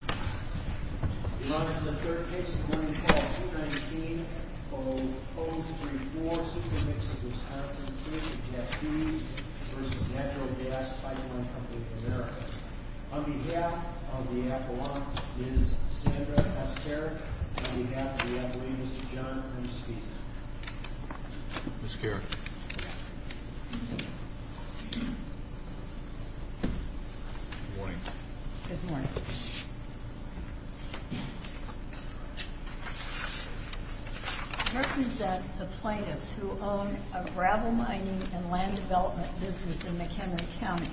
We run into the third case of the morning call, 219-034 Super Mix of Wisconsin, Inc. v. Natural Gas Pipeline Company of America On behalf of the appellant, Ms. Sandra Peskarek On behalf of the appellant, Mr. John Christensen Ms. Peskarek Good morning Good morning Good morning I represent the plaintiffs who own a gravel mining and land development business in McHenry County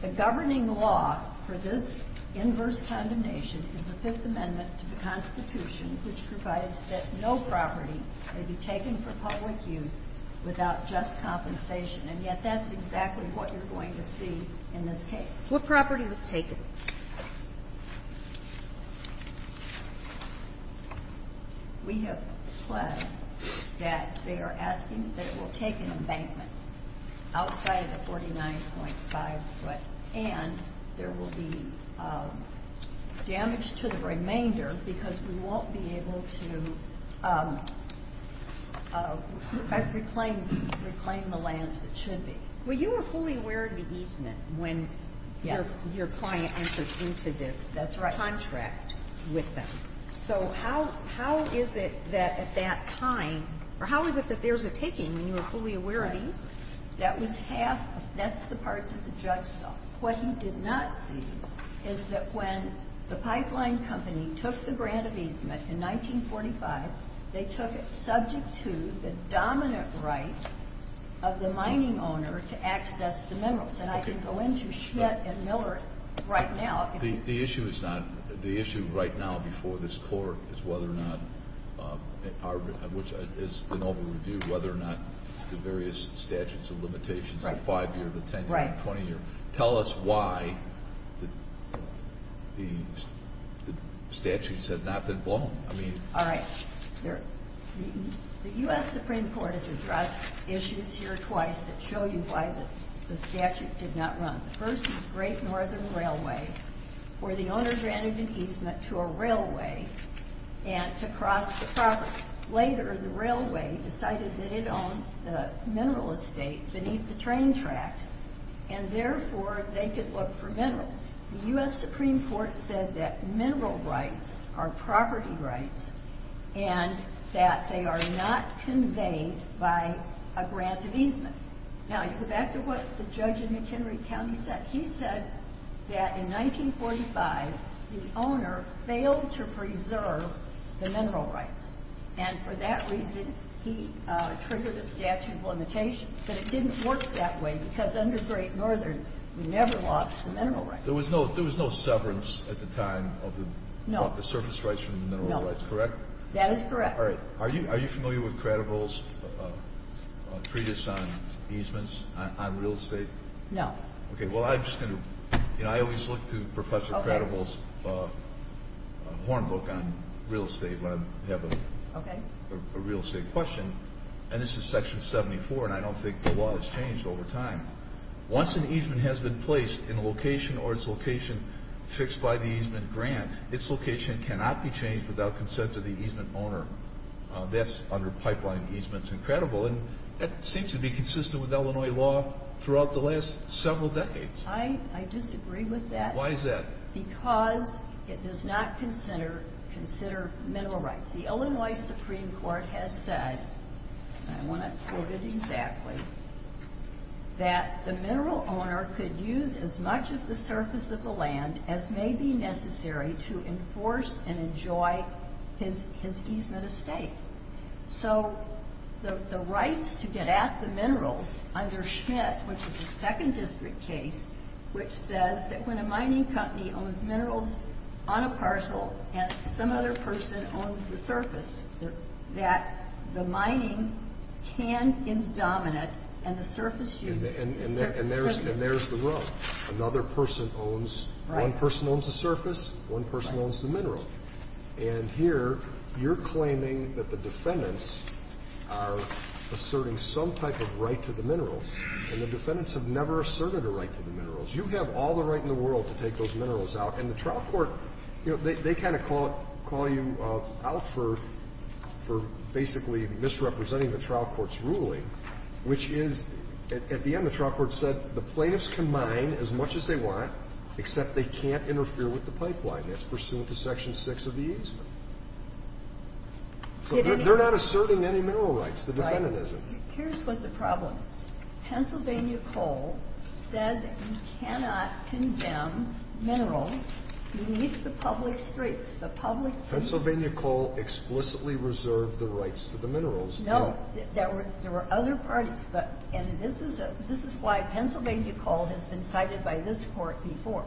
The governing law for this inverse condemnation is the Fifth Amendment to the Constitution which provides that no property may be taken for public use without just compensation and yet that's exactly what you're going to see in this case What property was taken? We have pledged that they are asking that it will take an embankment outside of the 49.5 foot and there will be damage to the remainder because we won't be able to reclaim the lands that should be Were you fully aware of the easement when your client entered into this contract with them? So how is it that at that time, or how is it that there's a taking when you were fully aware of the easement? That was half, that's the part that the judge saw What he did not see is that when the pipeline company took the grant of easement in 1945 they took it subject to the dominant right of the mining owner to access the minerals and I can go into Schmidt and Miller right now The issue is not, the issue right now before this court is whether or not, which is an over review whether or not the various statutes of limitations, the 5 year, the 10 year, the 20 year tell us why the statutes have not been blown The U.S. Supreme Court has addressed issues here twice that show you why the statute did not run The first was Great Northern Railway where the owner granted an easement to a railway to cross the property Later the railway decided that it owned the mineral estate beneath the train tracks The U.S. Supreme Court said that mineral rights are property rights and that they are not conveyed by a grant of easement Now to go back to what the judge in McHenry County said He said that in 1945 the owner failed to preserve the mineral rights and for that reason he triggered a statute of limitations but it didn't work that way because under Great Northern we never lost the mineral rights There was no severance at the time of the surface rights from the mineral rights, correct? That is correct Are you familiar with Credible's treatise on easements on real estate? No Well I'm just going to, I always look to Professor Credible's horn book on real estate when I have a real estate question and this is section 74 and I don't think the law has changed over time Once an easement has been placed in a location or its location fixed by the easement grant its location cannot be changed without consent of the easement owner That's under pipeline easements in Credible and that seems to be consistent with Illinois law throughout the last several decades I disagree with that Why is that? Because it does not consider mineral rights The Illinois Supreme Court has said, and I want to quote it exactly that the mineral owner could use as much of the surface of the land as may be necessary to enforce and enjoy his easement estate So the rights to get at the minerals under Schmidt, which is a second district case which says that when a mining company owns minerals on a parcel and some other person owns the surface that the mining can is dominant and the surface use is certain And there's the rub Another person owns, one person owns the surface, one person owns the mineral and here you're claiming that the defendants are asserting some type of right to the minerals and the defendants have never asserted a right to the minerals You have all the right in the world to take those minerals out And the trial court, they kind of call you out for basically misrepresenting the trial court's ruling which is at the end the trial court said the plaintiffs can mine as much as they want except they can't interfere with the pipeline That's pursuant to Section 6 of the easement So they're not asserting any mineral rights, the defendant isn't Here's what the problem is Pennsylvania Coal said that you cannot condemn minerals beneath the public streets Pennsylvania Coal explicitly reserved the rights to the minerals No, there were other parties And this is why Pennsylvania Coal has been cited by this court before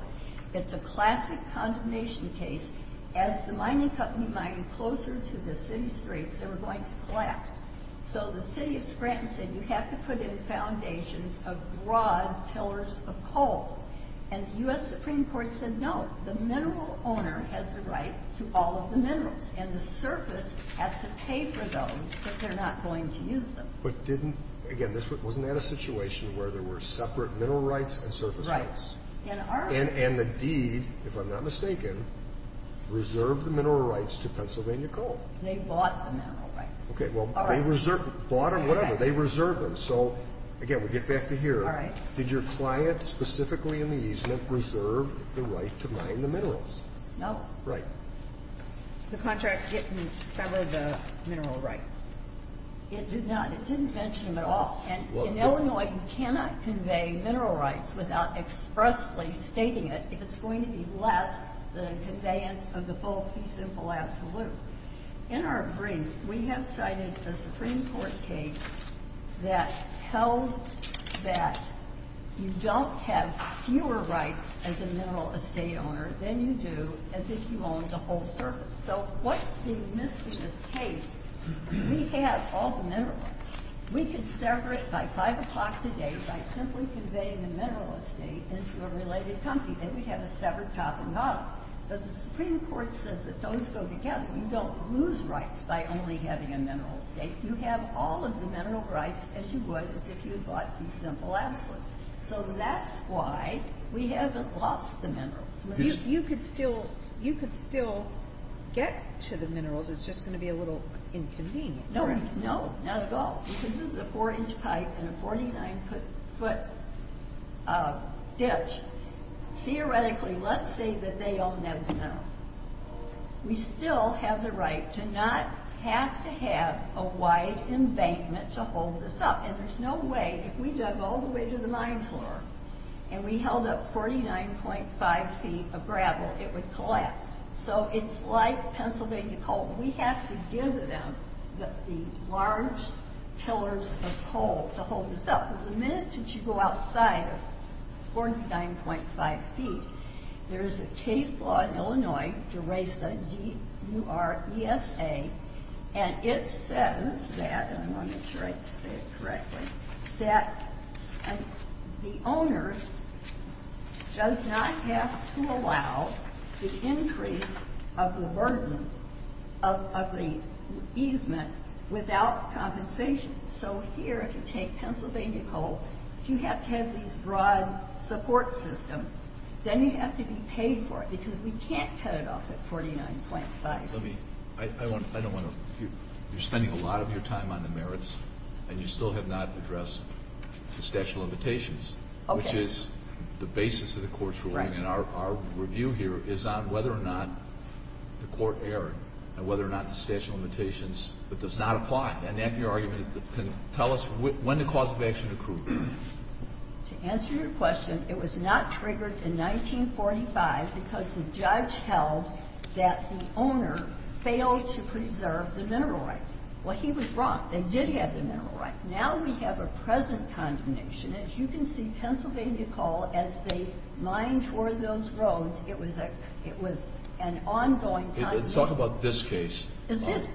It's a classic condemnation case As the mining company mined closer to the city streets, they were going to collapse So the city of Scranton said you have to put in foundations of broad pillars of coal And the U.S. Supreme Court said no, the mineral owner has the right to all of the minerals And the surface has to pay for those, but they're not going to use them But didn't, again, wasn't that a situation where there were separate mineral rights and surface rights? Right And the deed, if I'm not mistaken, reserved the mineral rights to Pennsylvania Coal They bought the mineral rights Okay, well, they bought or whatever, they reserved them So, again, we get back to here Did your client specifically in the easement reserve the right to mine the minerals? No Right The contract didn't sever the mineral rights It did not, it didn't mention them at all And in Illinois, you cannot convey mineral rights without expressly stating it If it's going to be less than the conveyance of the full fee simple absolute In our brief, we have cited a Supreme Court case that held that you don't have fewer rights as a mineral estate owner Than you do as if you owned the whole surface So what's being missed in this case, we have all the minerals We could sever it by 5 o'clock today by simply conveying the mineral estate into a related company Then we'd have a severed top and bottom But the Supreme Court says that those go together You don't lose rights by only having a mineral estate You have all of the mineral rights as you would as if you bought the simple absolute So that's why we haven't lost the minerals You could still get to the minerals, it's just going to be a little inconvenient No, not at all Because this is a 4-inch pipe and a 49-foot ditch Theoretically, let's say that they own that mineral We still have the right to not have to have a wide embankment to hold this up And there's no way, if we dug all the way to the mine floor And we held up 49.5 feet of gravel, it would collapse So it's like Pennsylvania coal We have to give them the large pillars of coal to hold this up The minute that you go outside of 49.5 feet There's a case law in Illinois, Deresa, D-U-R-E-S-A And it says that, and I want to make sure I say it correctly That the owner does not have to allow the increase of the burden of the easement without compensation So here, if you take Pennsylvania coal, if you have to have this broad support system Then you have to be paid for it, because we can't cut it off at 49.5 You're spending a lot of your time on the merits And you still have not addressed the statute of limitations Which is the basis of the court's ruling And our review here is on whether or not the court erred And whether or not the statute of limitations does not apply And that, your argument, can tell us when the cause of action occurred To answer your question, it was not triggered in 1945 Because the judge held that the owner failed to preserve the mineral right Well, he was wrong, they did have the mineral right Now we have a present condemnation As you can see, Pennsylvania coal, as they mined toward those roads It was an ongoing condemnation Let's talk about this case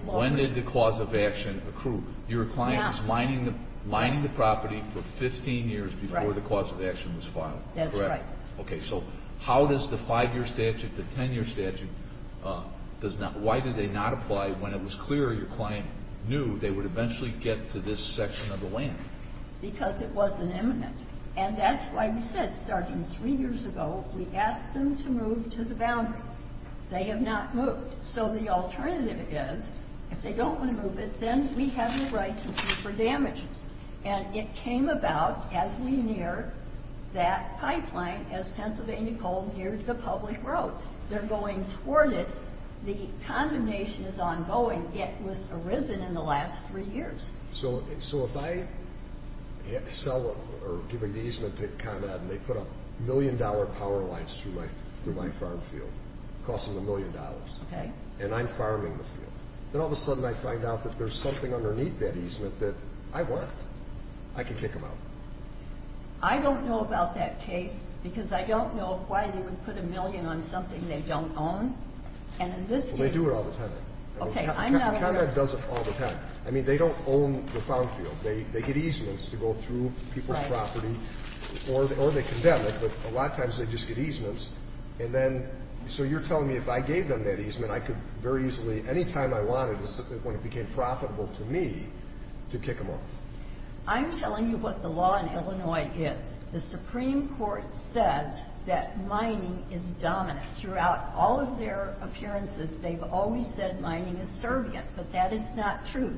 When did the cause of action occur? Your client was mining the property for 15 years before the cause of action was filed That's right Okay, so how does the 5-year statute, the 10-year statute, does not Why did they not apply when it was clear your client knew They would eventually get to this section of the land? Because it wasn't imminent And that's why we said starting 3 years ago We asked them to move to the boundary They have not moved So the alternative is, if they don't want to move it Then we have the right to sue for damages And it came about as we near that pipeline As Pennsylvania coal neared the public roads They're going toward it The condemnation is ongoing It was arisen in the last 3 years So if I sell or give an easement to Con Ed And they put up million-dollar power lines through my farm field Costing a million dollars And I'm farming the field Then all of a sudden I find out that there's something underneath that easement That I want I can kick them out I don't know about that case Because I don't know why they would put a million on something they don't own And in this case They do it all the time Okay, I'm not Con Ed does it all the time I mean, they don't own the farm field They get easements to go through people's property Or they condemn it But a lot of times they just get easements And then, so you're telling me If I gave them that easement I could very easily Anytime I wanted When it became profitable to me To kick them off I'm telling you what the law in Illinois is The Supreme Court says that mining is dominant Throughout all of their appearances They've always said mining is servient But that is not true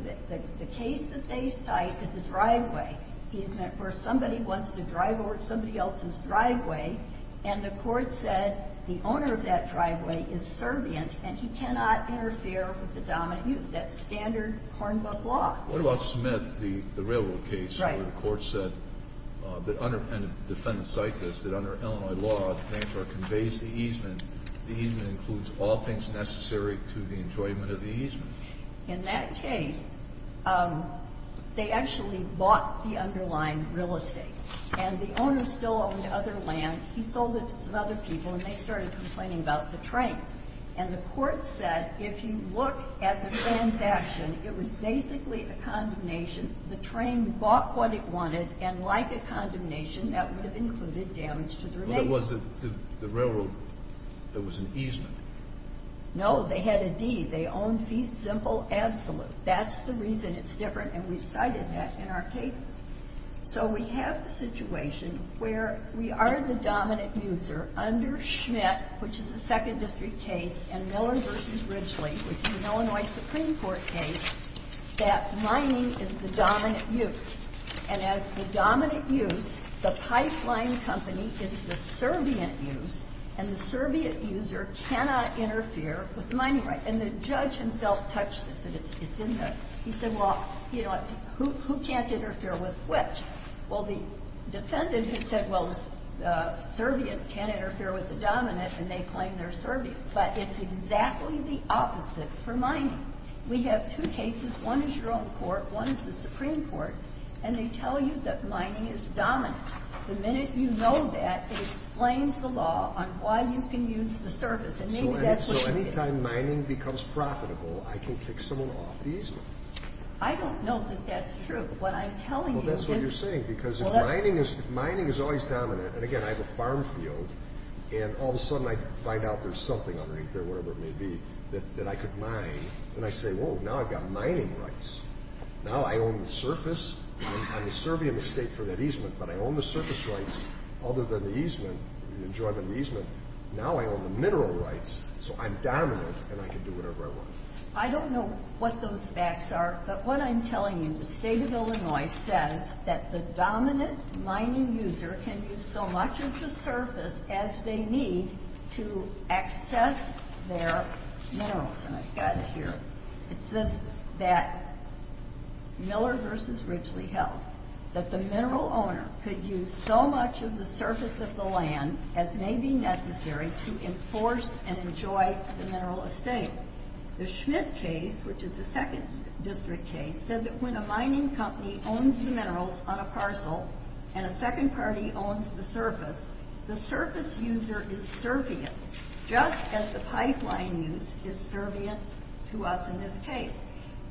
The case that they cite is a driveway easement Where somebody wants to drive over somebody else's driveway And the court said The owner of that driveway is servient And he cannot interfere with the dominant use That's standard Hornbuck law What about Smith? The railroad case Right Where the court said And the defendant cited this That under Illinois law The banker conveys the easement The easement includes all things necessary To the enjoyment of the easement In that case They actually bought the underlying real estate And the owner still owned other land He sold it to some other people And they started complaining about the trains And the court said If you look at the transaction It was basically a condemnation The train bought what it wanted And like a condemnation That would have included damage to the renewal There was the railroad There was an easement No, they had a deed They owned fee simple absolute That's the reason it's different And we've cited that in our cases So we have the situation Where we are the dominant user Under Schmidt Which is a second district case And Miller v. Ridgely Which is an Illinois Supreme Court case That mining is the dominant use And as the dominant use The pipeline company Is the servient use And the servient user Cannot interfere with mining rights And the judge himself touched this He said Who can't interfere with which? Well the defendant Has said Servient can't interfere with the dominant And they claim they're servient But it's exactly the opposite for mining We have two cases One is your own court One is the Supreme Court And they tell you that mining is dominant The minute you know that It explains the law on why you can use the service So anytime mining becomes profitable I can kick someone off the easement I don't know that that's true But what I'm telling you Well that's what you're saying Because mining is always dominant And again I have a farm field And all of a sudden I find out There's something underneath there Whatever it may be That I could mine And I say Now I've got mining rights Now I own the surface I'm a servient estate for that easement But I own the surface rights Other than the easement Now I own the mineral rights So I'm dominant And I can do whatever I want I don't know what those facts are But what I'm telling you The state of Illinois says That the dominant mining user Can use so much of the surface As they need to access their minerals And I've got it here It says that Miller v. Ridgely held That the mineral owner Could use so much of the surface Of the land as may be necessary To enforce and enjoy The mineral estate The Schmidt case Which is the second district case Said that when a mining company Owns the minerals on a parcel And a second party owns the surface The surface user is servient Just as the pipeline use Is servient to us in this case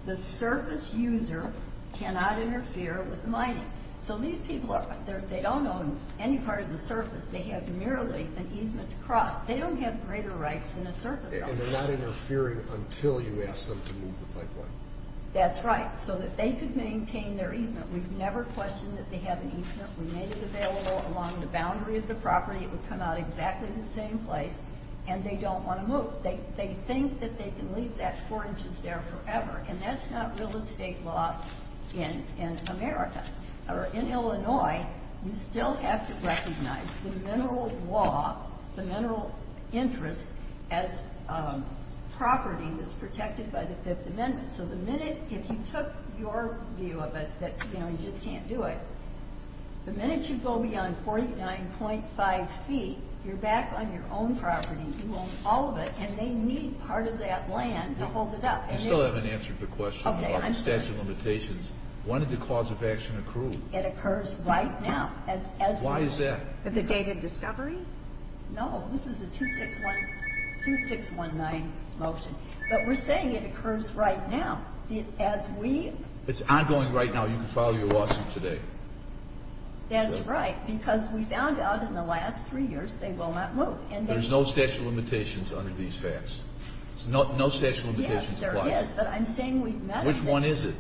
The surface user Cannot interfere with mining So these people They don't own any part of the surface They have merely an easement to cross They don't have greater rights than a surface owner And they're not interfering Until you ask them to move the pipeline That's right So that they could maintain their easement We've never questioned that they have an easement We made it available along the boundary of the property It would come out exactly in the same place And they don't want to move They think that they can leave that 4 inches there forever And that's not real estate law In America Or in Illinois You still have to recognize The mineral law The mineral interest As property That's protected by the 5th amendment So the minute If you took your view of it That you just can't do it The minute you go beyond 49.5 feet You're back on your own property You own all of it And they need part of that land to hold it up You still haven't answered the question On statute of limitations When did the cause of action accrue? It occurs right now Why is that? The date of discovery? No, this is a 2619 motion But we're saying it occurs right now As we It's ongoing right now You can file your lawsuit today That's right Because we found out in the last 3 years They will not move There's no statute of limitations under these facts No statute of limitations Yes, there is Which one is it?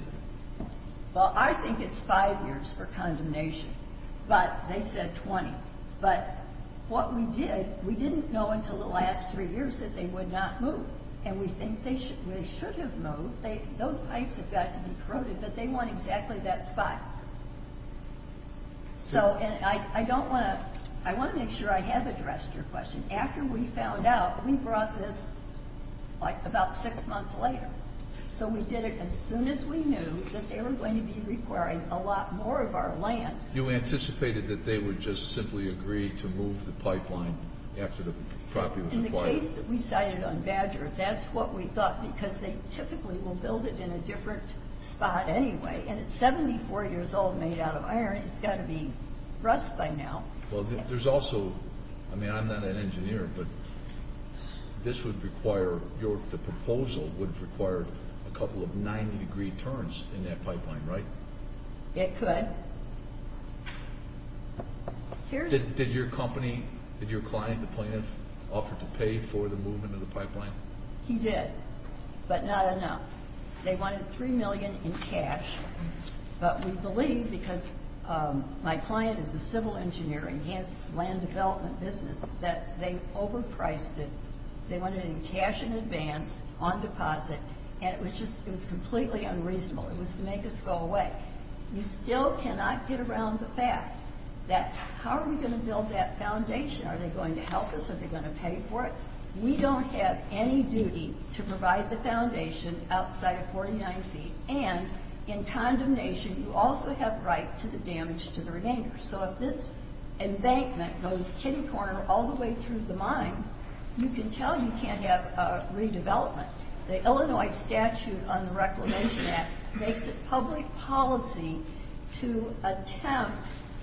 I think it's 5 years for condemnation But they said 20 But what we did We didn't know until the last 3 years That they would not move And we think they should have moved Those pipes have got to be corroded But they want exactly that spot So And I don't want to I want to make sure I have addressed your question After we found out We brought this About 6 months later So we did it as soon as we knew That they were going to be requiring A lot more of our land You anticipated that they would just simply agree To move the pipeline After the property was acquired In the case that we cited on Badger That's what we thought Because they typically will build it In a different spot anyway And it's 74 years old made out of iron It's got to be rust by now Well there's also I mean I'm not an engineer But this would require The proposal would require A couple of 90 degree turns In that pipeline, right? It could Did your company Did your client The plaintiff Offer to pay for the movement of the pipeline? He did But not enough They wanted 3 million in cash But we believe because My client is a civil engineer Enhanced land development business That they overpriced it They wanted it in cash in advance On deposit And it was just completely unreasonable It was to make us go away You still cannot get around the fact That how are we going to build that foundation? Are they going to help us? Are they going to pay for it? We don't have any duty to provide the foundation Outside of 49 feet And in condemnation You also have right to the damage to the remainder So if this embankment Goes tinny corner all the way Through the mine You can tell you can't have redevelopment The Illinois statute On the Reclamation Act Makes it public policy To attempt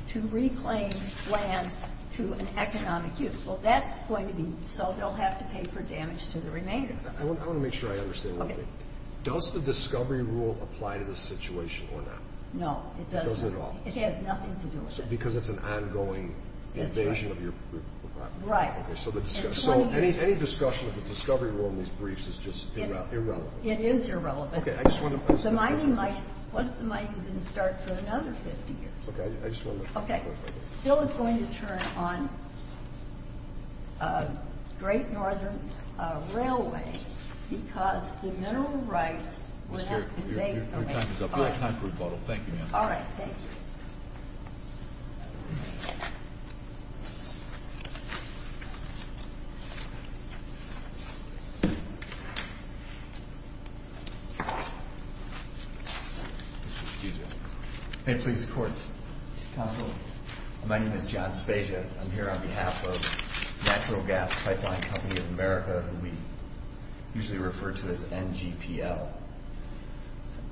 to reclaim Land to an economic use Well that's going to be So they'll have to pay for damage to the remainder I want to make sure I understand one thing Does the discovery rule Apply to this situation or not? No, it doesn't It has nothing to do with it Because it's an ongoing invasion of your property Right So any discussion of the discovery rule In these briefs is just irrelevant It is irrelevant The mining might Once the mining didn't start For another 50 years Still it's going to turn on Great Northern Railway Because the mineral rights Would have to pay for it Your time is up Thank you Excuse me May it please the court Counsel, my name is John Spezia I'm here on behalf of Natural Gas Pipeline Company of America Who we usually refer to as NGPL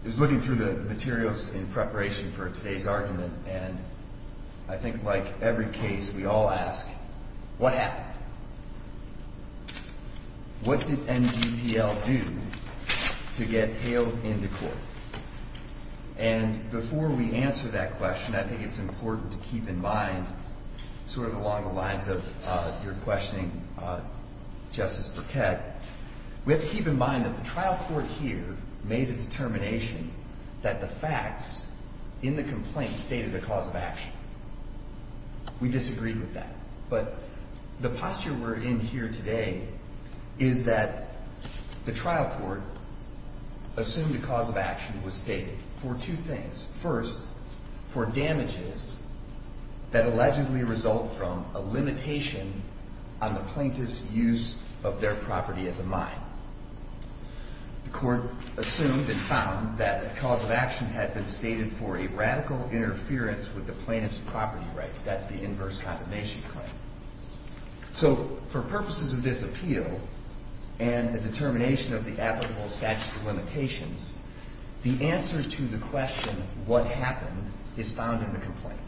I was looking through the materials In preparation for today's argument And I think like Every case we all ask What happened? What did NGPL Do To get Hale Into court? And before we answer that question I think it's important to keep in mind Sort of along the lines of Your questioning Justice Burkett We have to keep in mind that the trial court here Made a determination That the facts In the complaint stated the cause of action We disagreed with that But the posture We're in here today Is that The trial court Assumed the cause of action was stated For two things First, for damages That allegedly result from A limitation on the plaintiff's Use of their property As a mine The court assumed and found That the cause of action had been stated For a radical interference With the plaintiff's property rights That the inverse condemnation claim So For purposes of this appeal And the determination of the applicable Statutes of limitations The answer to the question What happened is found in the complaint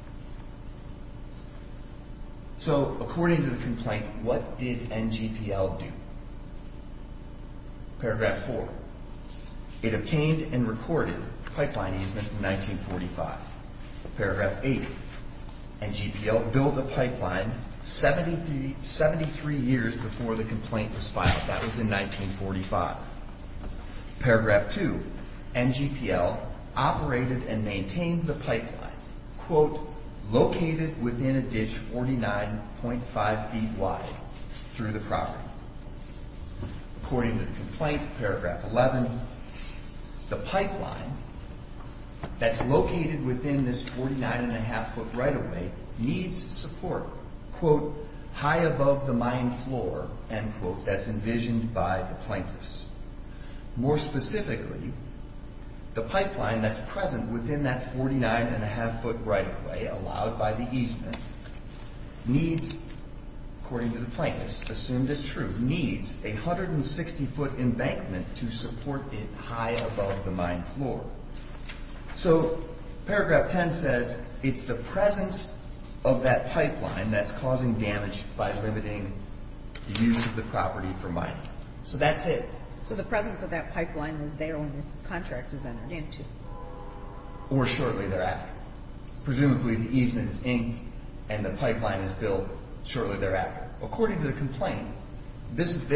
So according to the complaint What did NGPL do? Paragraph 4 It obtained and recorded pipeline easements In 1945 Paragraph 8 NGPL built a pipeline 73 years Before the complaint was filed That was in 1945 Paragraph 2 NGPL operated and maintained The pipeline Quote, located within a ditch 49.5 feet wide Through the property According to the complaint Paragraph 11 The pipeline That's located within this 49.5 foot right of way Needs support Quote, high above the mine floor End quote, that's envisioned by The plaintiffs More specifically The pipeline that's present within that 49.5 foot right of way Allowed by the easement Needs According to the plaintiffs, assumed as true Needs a 160 foot Embankment to support it High above the mine floor So Paragraph 10 says It's the presence of that pipeline That's causing damage by limiting The use of the property for mining So that's it So the presence of that pipeline was there When this contract was entered into Or shortly thereafter Presumably the easement is inked And the pipeline is built Shortly thereafter According to the complaint This is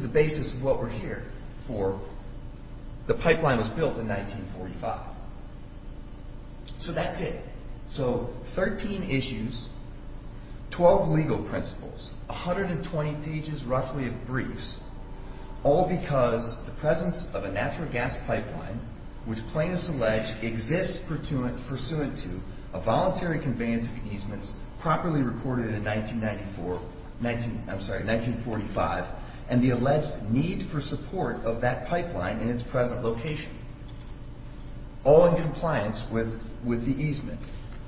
the basis of what we're here for The pipeline was built in 1945 So that's it So 13 issues 12 legal principles 120 pages roughly of briefs All because The presence of a natural gas pipeline Which plaintiffs allege Exists pursuant to A voluntary conveyance of easements Properly recorded in 1994, I'm sorry 1945 And the alleged need For support of that pipeline In its present location All in compliance with The easement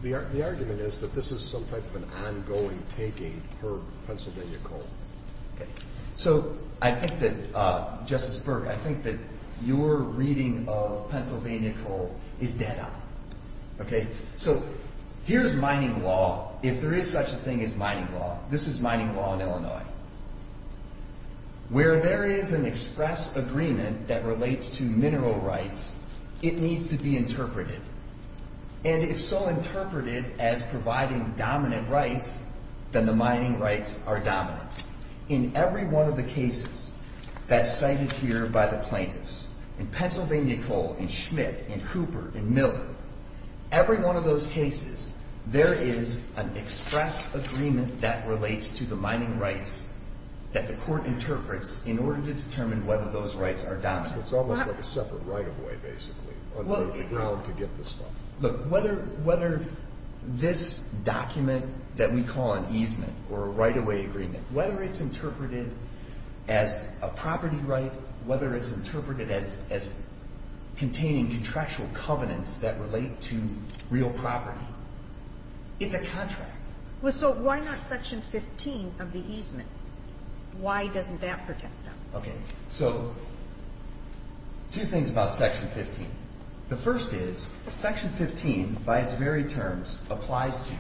The argument is that this is some type of Ongoing taking Per Pennsylvania Coal So I think that Justice Burke, I think that your reading Of Pennsylvania Coal Is dead on So here's mining law If there is such a thing as mining law This is mining law in Illinois Where there is An express agreement that relates To mineral rights It needs to be interpreted And if so interpreted As providing dominant rights Then the mining rights are dominant In every one of the cases That's cited here By the plaintiffs In Pennsylvania Coal, in Schmidt, in Cooper In Miller Every one of those cases There is an express Agreement that relates to the Mining rights that the court Interprets in order to determine whether Those rights are dominant So it's almost like a separate right-of-way basically To get the stuff Look, whether this document That we call an easement Or a right-of-way agreement Whether it's interpreted as A property right, whether it's interpreted As containing Contractual covenants that relate To real property It's a contract So why not section 15 of the easement? Why doesn't that protect them? Okay, so Two things about section 15 The first is Section 15, by its very terms Applies to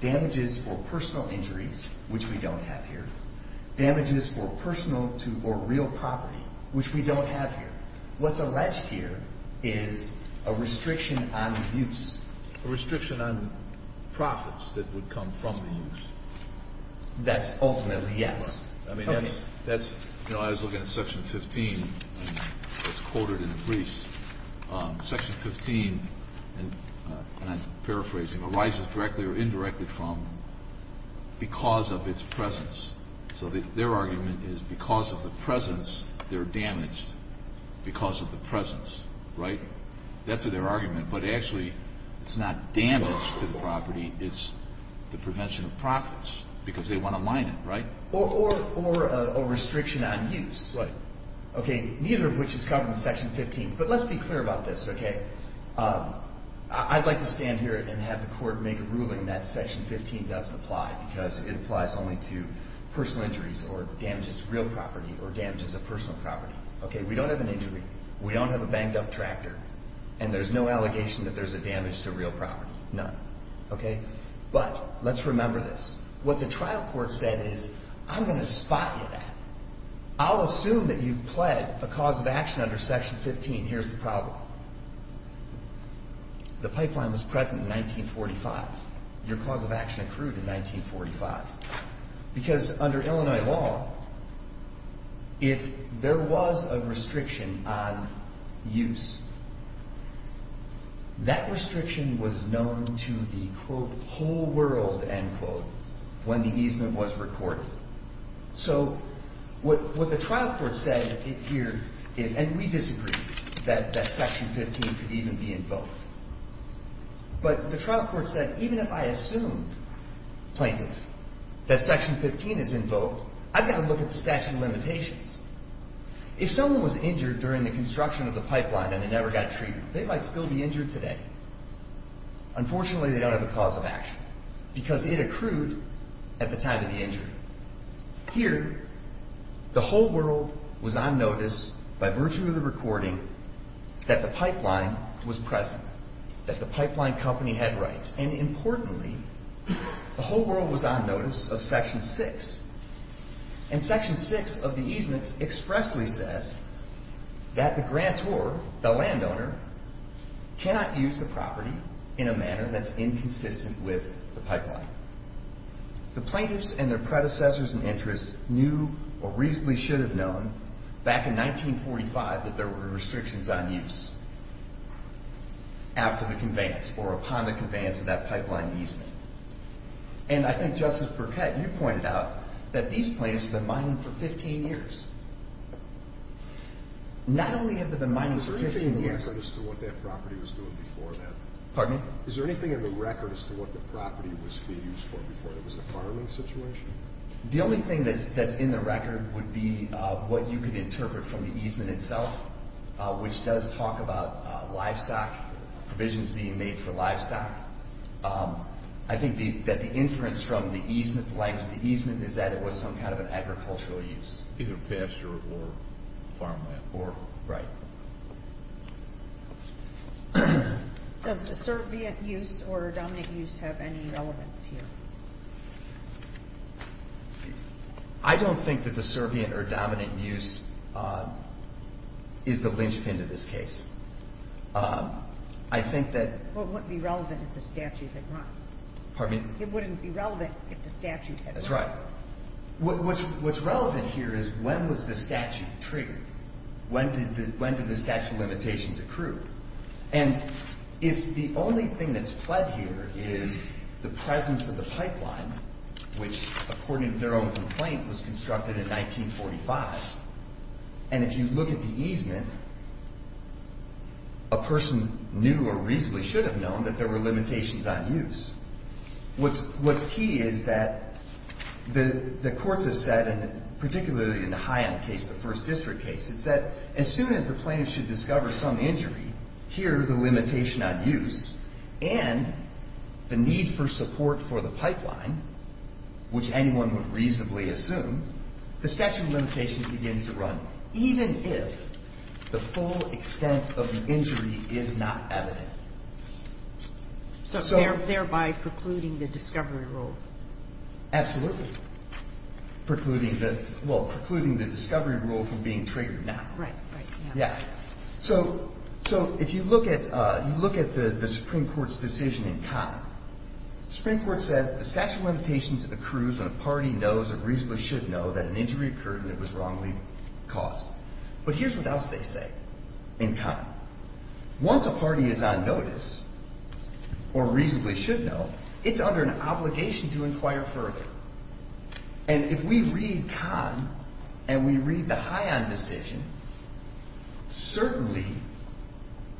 Damages for personal injuries Which we don't have here Damages for personal or real property Which we don't have here What's alleged here Is a restriction on use A restriction on Profits that would come from the use That's ultimately, yes I mean, that's You know, I was looking at section 15 It's quoted in the briefs Section 15 And I'm paraphrasing Arises directly or indirectly from Because of its presence So their argument is Because of the presence They're damaged Because of the presence Right? That's their argument But actually, it's not damage To the property, it's The prevention of profits Because they want to mine it, right? Or a restriction on use Okay, neither of which is covered In section 15, but let's be clear about this Okay I'd like to stand here and have the court Make a ruling that section 15 doesn't apply Because it applies only to Personal injuries or damages real property Or damages of personal property Okay, we don't have an injury We don't have a banged up tractor And there's no allegation that there's a damage to real property None, okay But, let's remember this What the trial court said is I'm going to spot you that I'll assume that you've pled a cause of action Under section 15, here's the problem The pipeline was present in 1945 Your cause of action accrued in 1945 Because under Illinois law If there was a restriction On use That restriction was known to the Quote, whole world, end quote When the easement was recorded So What the trial court said Here is, and we disagree That section 15 could even be invoked But the trial court said, even if I assume Plaintiff That section 15 is invoked I've got to look at the statute of limitations If someone was injured during the Construction of the pipeline and they never got treated They might still be injured today Unfortunately they don't have a cause of action Because it accrued At the time of the injury Here The whole world was on notice By virtue of the recording That the pipeline was present That the pipeline company had rights And importantly The whole world was on notice of section 6 And section 6 Of the easement expressly says That the grantor The landowner Cannot use the property In a manner that's inconsistent with The pipeline The plaintiffs and their predecessors and interests Knew or reasonably should have known Back in 1945 That there were restrictions on use After the conveyance Or upon the conveyance of that pipeline easement And I think Justice Burkett You pointed out That these plaintiffs have been mining for 15 years Not only have they been mining for 15 years Is there anything in the record as to what that property was doing before that? Pardon me? Is there anything in the record as to what the property was being used for before that? Was it a farming situation? The only thing that's in the record Would be what you could interpret From the easement itself Which does talk about Livestock Provisions being made for livestock I think that the inference From the easement The length of the easement Is that it was some kind of an agricultural use Either pasture or farmland Right Does the servient use Or dominant use Have any relevance here? I don't think that the servient Or dominant use Is the linchpin to this case I think that It wouldn't be relevant if the statute had run Pardon me? It wouldn't be relevant if the statute had run That's right What's relevant here is When was the statute triggered? When did the statute of limitations accrue? And if the only thing That's pled here is The presence of the pipeline Which according to their own complaint Was constructed in 1945 And if you look at the easement A person knew or reasonably Should have known that there were limitations on use What's key Is that The courts have said Particularly in the High End case The First District case Is that as soon as the plaintiff should discover some injury Here the limitation on use And the need for support For the pipeline Which anyone would reasonably assume The statute of limitations begins to run Even if The full extent of the injury Is not evident So thereby precluding The discovery rule Absolutely Precluding the Well precluding the discovery rule from being triggered now Right Yeah So if you look at The Supreme Court's decision in common Supreme Court says The statute of limitations accrues when a party Knows or reasonably should know that an injury occurred And it was wrongly caused But here's what else they say In common Once a party is on notice Or reasonably should know It's under an obligation to inquire further And if we read Common And we read the High End decision Certainly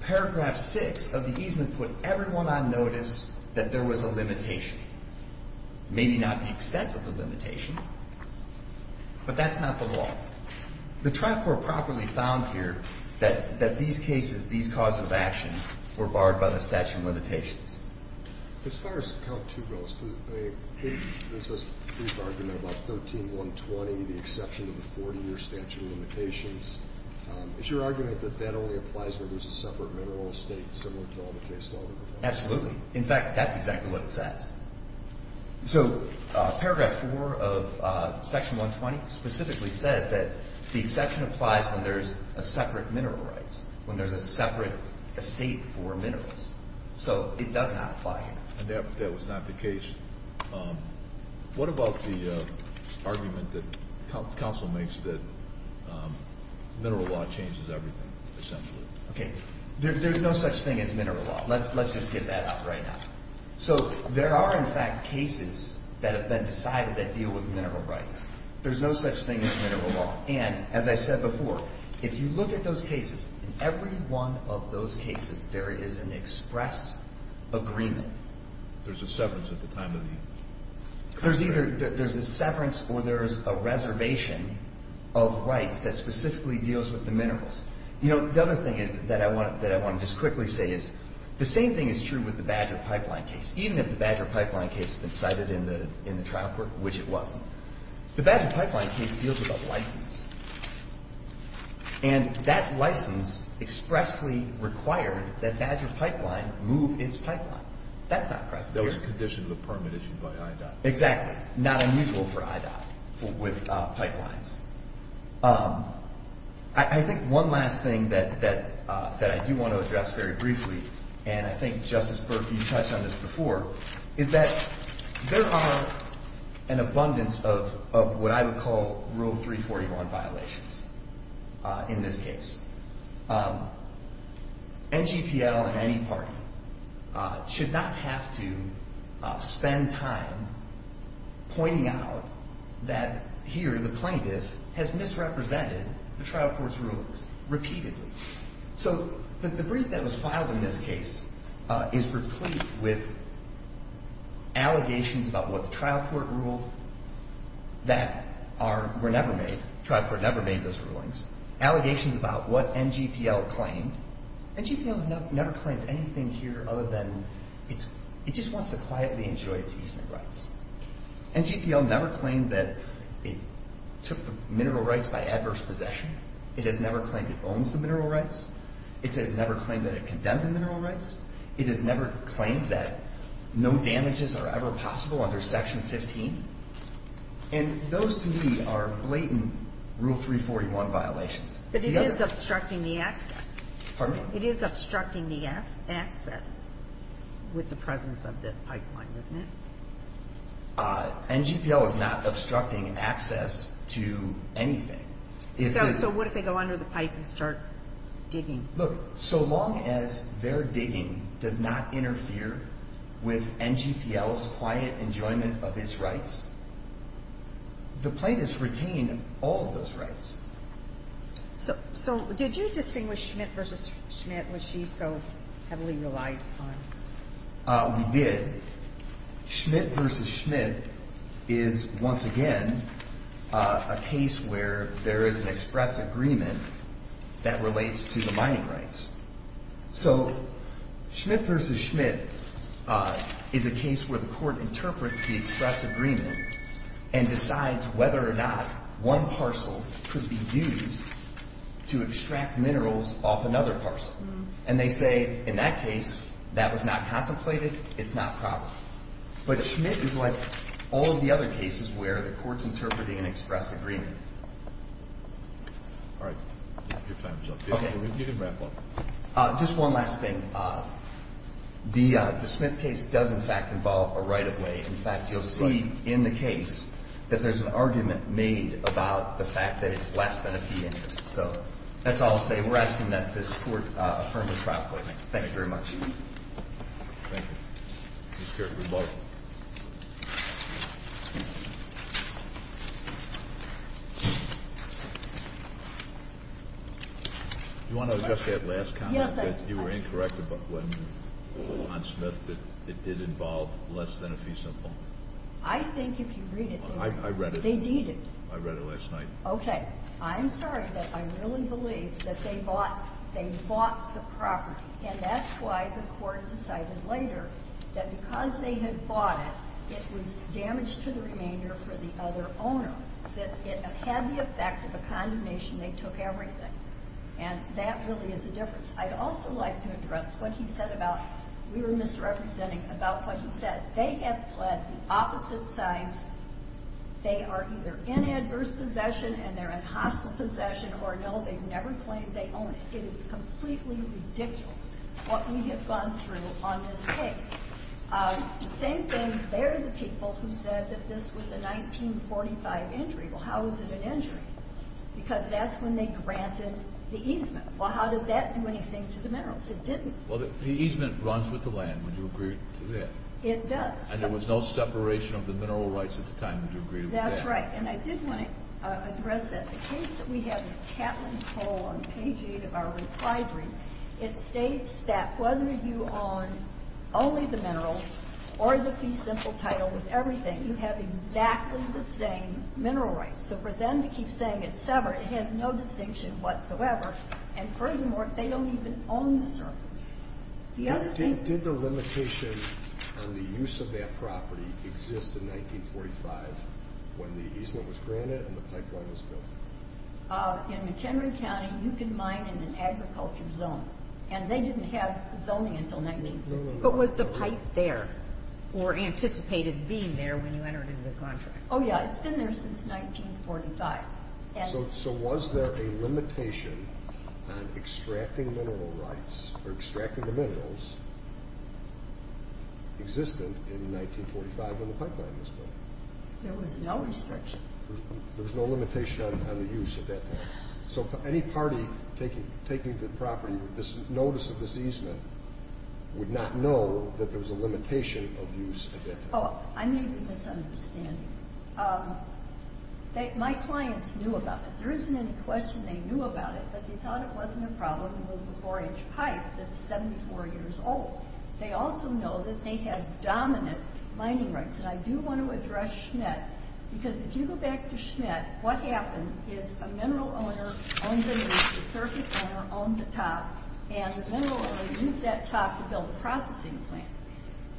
Paragraph six of the easement We can put everyone on notice That there was a limitation Maybe not the extent of the limitation But that's not the law The trial court Properly found here That these cases, these causes of action Were barred by the statute of limitations As far as Count two goes There's this brief argument about 13-120 The exception to the 40-year statute of limitations Is your argument That that only applies When there's a separate mineral estate Similar to all the case law Absolutely. In fact, that's exactly what it says So paragraph four Of section 120 Specifically says that The exception applies when there's a separate mineral rights When there's a separate Estate for minerals So it does not apply here That was not the case What about the Argument that Council makes that There's no such thing as mineral law Let's just get that out right now So there are in fact Cases that have been decided That deal with mineral rights There's no such thing as mineral law And as I said before If you look at those cases In every one of those cases There is an express agreement There's a severance at the time of the There's either a severance Or there's a reservation Of rights that specifically deals With the minerals The other thing that I want to just quickly say is The same thing is true with the Badger Pipeline case Even if the Badger Pipeline case Has been cited in the trial court Which it wasn't The Badger Pipeline case deals with a license And that license Expressly required That Badger Pipeline move its pipeline That's not present here That was a condition of the permit issued by IDOT Exactly. Not unusual for IDOT With pipelines I think one last thing That I do want to address very briefly And I think Justice Burke You touched on this before Is that there are An abundance of What I would call Rule 341 violations In this case NGPL in any party Should not have to Spend time Pointing out That here the plaintiff Has misrepresented The trial court's rulings repeatedly So the brief that was filed In this case Is replete with Allegations about what the trial court Ruled That were never made The trial court never made those rulings Allegations about what NGPL claimed NGPL has never claimed anything Here other than It just wants to quietly enjoy its easement rights NGPL never claimed That it took the Mineral rights by adverse possession It has never claimed it owns the mineral rights It has never claimed that it condemned The mineral rights It has never claimed that no damages Are ever possible under section 15 And those to me Are blatant Rule 341 violations But it is obstructing the access Pardon me? It is obstructing the access With the presence of the pipeline, isn't it? NGPL is not obstructing Access to anything So what if they go under the pipe And start digging? Look, so long as their digging Does not interfere With NGPL's quiet Enjoyment of its rights The plaintiffs retain All of those rights So did you Distinguish Schmidt versus Schmidt? Was she so heavily relied upon? We did Schmidt versus Schmidt Is once again A case where There is an express agreement That relates to the mining rights So Schmidt versus Schmidt Is a case where the court Interprets the express agreement And decides whether or not One parcel could be used To extract minerals Off another parcel And they say in that case That was not contemplated It's not probable But Schmidt is like all of the other cases Where the court is interpreting an express agreement All right Your time is up You can wrap up Just one last thing The Schmidt case does in fact involve A right of way In fact you'll see in the case About the fact that it's less than a few inches So that's all I'll say And we're asking that this court Affirm the trial court Thank you very much Thank you You want to address that last comment That you were incorrect When on Schmidt It did involve less than a few simple I think if you read it I read it They deed it I read it last night I'm sorry but I really believe That they bought the property And that's why the court decided later That because they had bought it It was damaged to the remainder For the other owner That it had the effect of a condemnation They took everything And that really is the difference I'd also like to address what he said about We were misrepresenting About what he said That they have pled the opposite sides They are either In adverse possession And they're in hostile possession Or no they've never claimed they own it It is completely ridiculous What we have gone through on this case The same thing There are the people who said That this was a 1945 injury Well how is it an injury Because that's when they granted the easement Well how did that do anything to the minerals It didn't Well the easement runs with the land Would you agree to that It does And there was no separation of the mineral rights at the time That's right And I did want to address that The case that we have is Catlin Cole On page 8 of our reply brief It states that whether you own Only the minerals Or the fee simple title with everything You have exactly the same mineral rights So for them to keep saying it's severed It has no distinction whatsoever And furthermore They don't even own the surface Did the limitation On the use of that property Exist in 1945 When the easement was granted And the pipeline was built In McHenry County You can mine in an agriculture zone And they didn't have zoning until 1945 But was the pipe there Or anticipated being there When you entered into the contract Oh yeah it's been there since 1945 So was there a limitation On extracting mineral rights Or extracting the minerals Existent in 1945 When the pipeline was built There was no restriction There was no limitation on the use at that time So any party Taking the property With this notice of this easement Would not know that there was a limitation Of use at that time Oh I may be misunderstanding Um My clients knew about it There isn't any question they knew about it But they thought it wasn't a problem To move a 4 inch pipe that's 74 years old They also know that they had Dominant mining rights And I do want to address Schnett Because if you go back to Schnett What happened is a mineral owner Owned the surface owner Owned the top And the mineral owner used that top to build a processing plant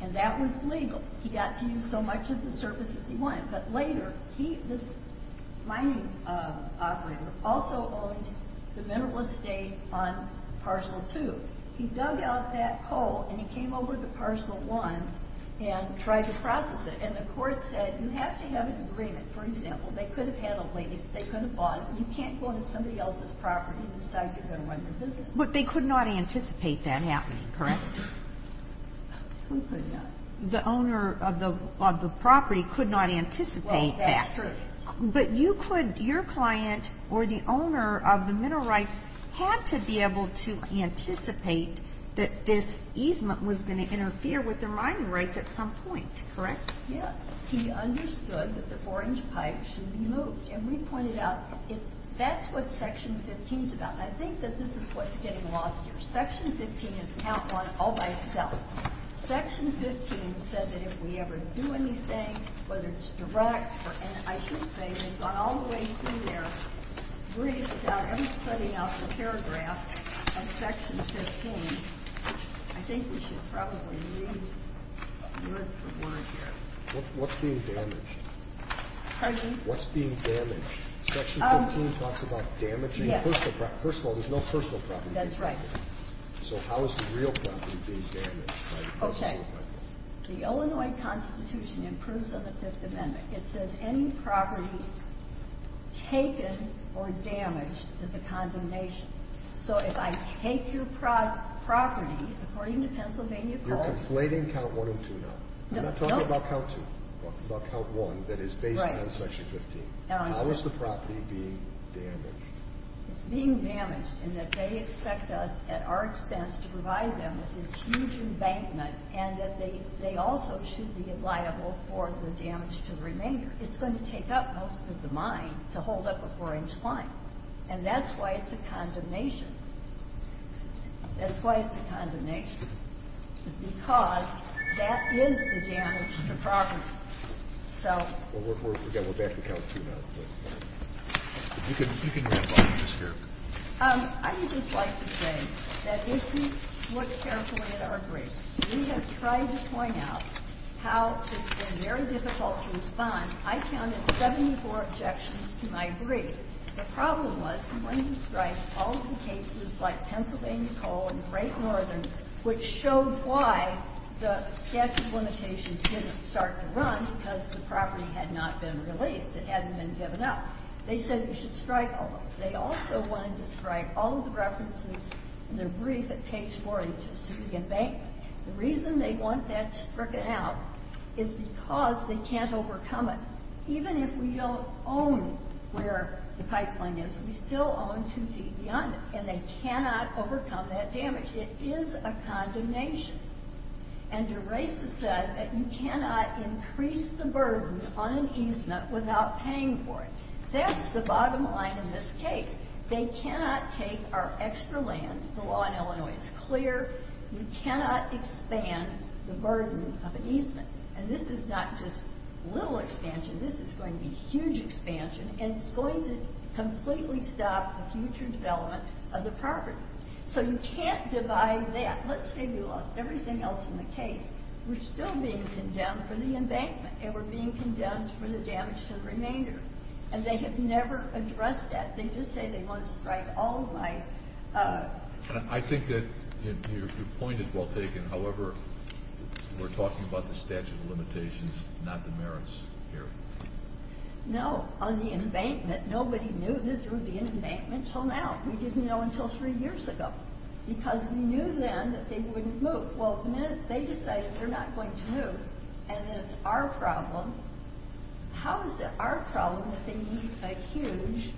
And that was legal He got to use so much of the surfaces he wanted But later This mining operator Also owned the mineral estate On parcel 2 He dug out that coal And he came over to parcel 1 And tried to process it And the court said you have to have an agreement For example they could have had a lease They could have bought it You can't go to somebody else's property And decide you're going to run your business But they could not anticipate that happening correct Who could not The owner of the property Could not anticipate that But you could Your client or the owner Of the mineral rights had to be able To anticipate That this easement was going to Interfere with the mining rights at some point Correct Yes he understood that the 4 inch pipe Should be moved and we pointed out That's what section 15 is about And I think that this is what's getting lost here It's all by itself Section 15 said that if we ever do anything Whether it's direct And I should say They've gone all the way through there Writing it down And setting up a paragraph On section 15 I think we should probably read Word for word here What's being damaged? Pardon? What's being damaged? Section 15 talks about damaging First of all there's no personal property That's right So how is the real property being damaged? Okay The Illinois constitution improves on the 5th amendment It says any property Taken Or damaged is a condemnation So if I take your Property according to Pennsylvania You're conflating count 1 and 2 now I'm not talking about count 2 I'm talking about count 1 that is based on Section 15 How is the property being damaged? It's being damaged In that they expect us At our expense to provide them With this huge embankment And that they also should be liable For the damage to the remainder It's going to take up most of the mine To hold up a 4 inch line And that's why it's a condemnation That's why it's a condemnation Because That is the damage To property So We're back to count 2 now You can go I would just like to say That if you Look carefully at our brief We have tried to point out How it's been very difficult to respond I counted 74 objections To my brief The problem was when you strike All of the cases like Pennsylvania coal And Great Northern Which showed why the Statute of limitations didn't start to run Because the property had not been released It hadn't been given up They said you should strike all those They also wanted to strike all of the references In their brief that takes 4 inches To begin bank The reason they want that stricken out Is because they can't overcome it Even if we don't own Where the pipeline is We still own 2 feet beyond it And they cannot overcome that damage It is a condemnation And DeRosa said That you cannot increase The burden on an easement Without paying for it That's the bottom line in this case They cannot take our extra land The law in Illinois is clear You cannot expand The burden of an easement And this is not just little expansion This is going to be huge expansion And it's going to completely Stop the future development Of the property So you can't divide that Let's say we lost everything else in the case We're still being condemned For the embankment And we're being condemned for the damage to the remainder And they have never addressed that They just say they want to strike all of my I think that Your point is well taken However We're talking about the statute of limitations Not the merits here No, on the embankment Nobody knew that there would be an embankment Until now We didn't know until three years ago Because we knew then that they wouldn't move Well the minute they decided they're not going to move And it's our problem How is it our problem That they need a huge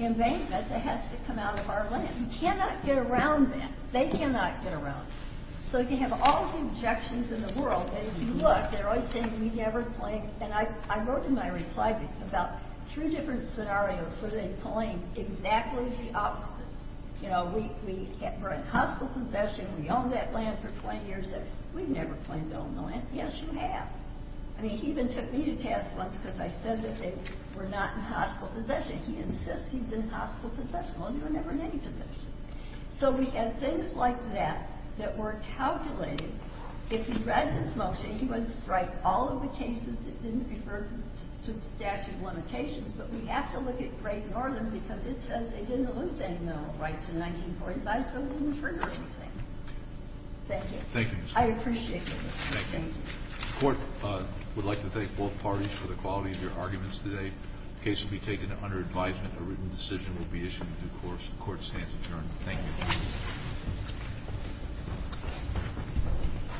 Embankment that has to come out of our land We cannot get around that They cannot get around So you can have all the objections in the world And if you look They're always saying we never claim And I wrote in my reply About three different scenarios Where they claim exactly the opposite You know We're in hostile possession We own that land for 20 years We've never claimed to own the land Yes you have I mean he even took me to task once Because I said that they were not in hostile possession He insists he's in hostile possession Well you were never in any possession So we had things like that That were calculated If he read this motion He would strike all of the cases That didn't refer to the statute of limitations But we have to look at Great Northern Because it says they didn't lose any Mineral rights in 1945 So it doesn't trigger anything Thank you I appreciate it The court would like to thank both parties For the quality of your arguments today The case will be taken under advisement A written decision will be issued in due course The court stands adjourned Thank you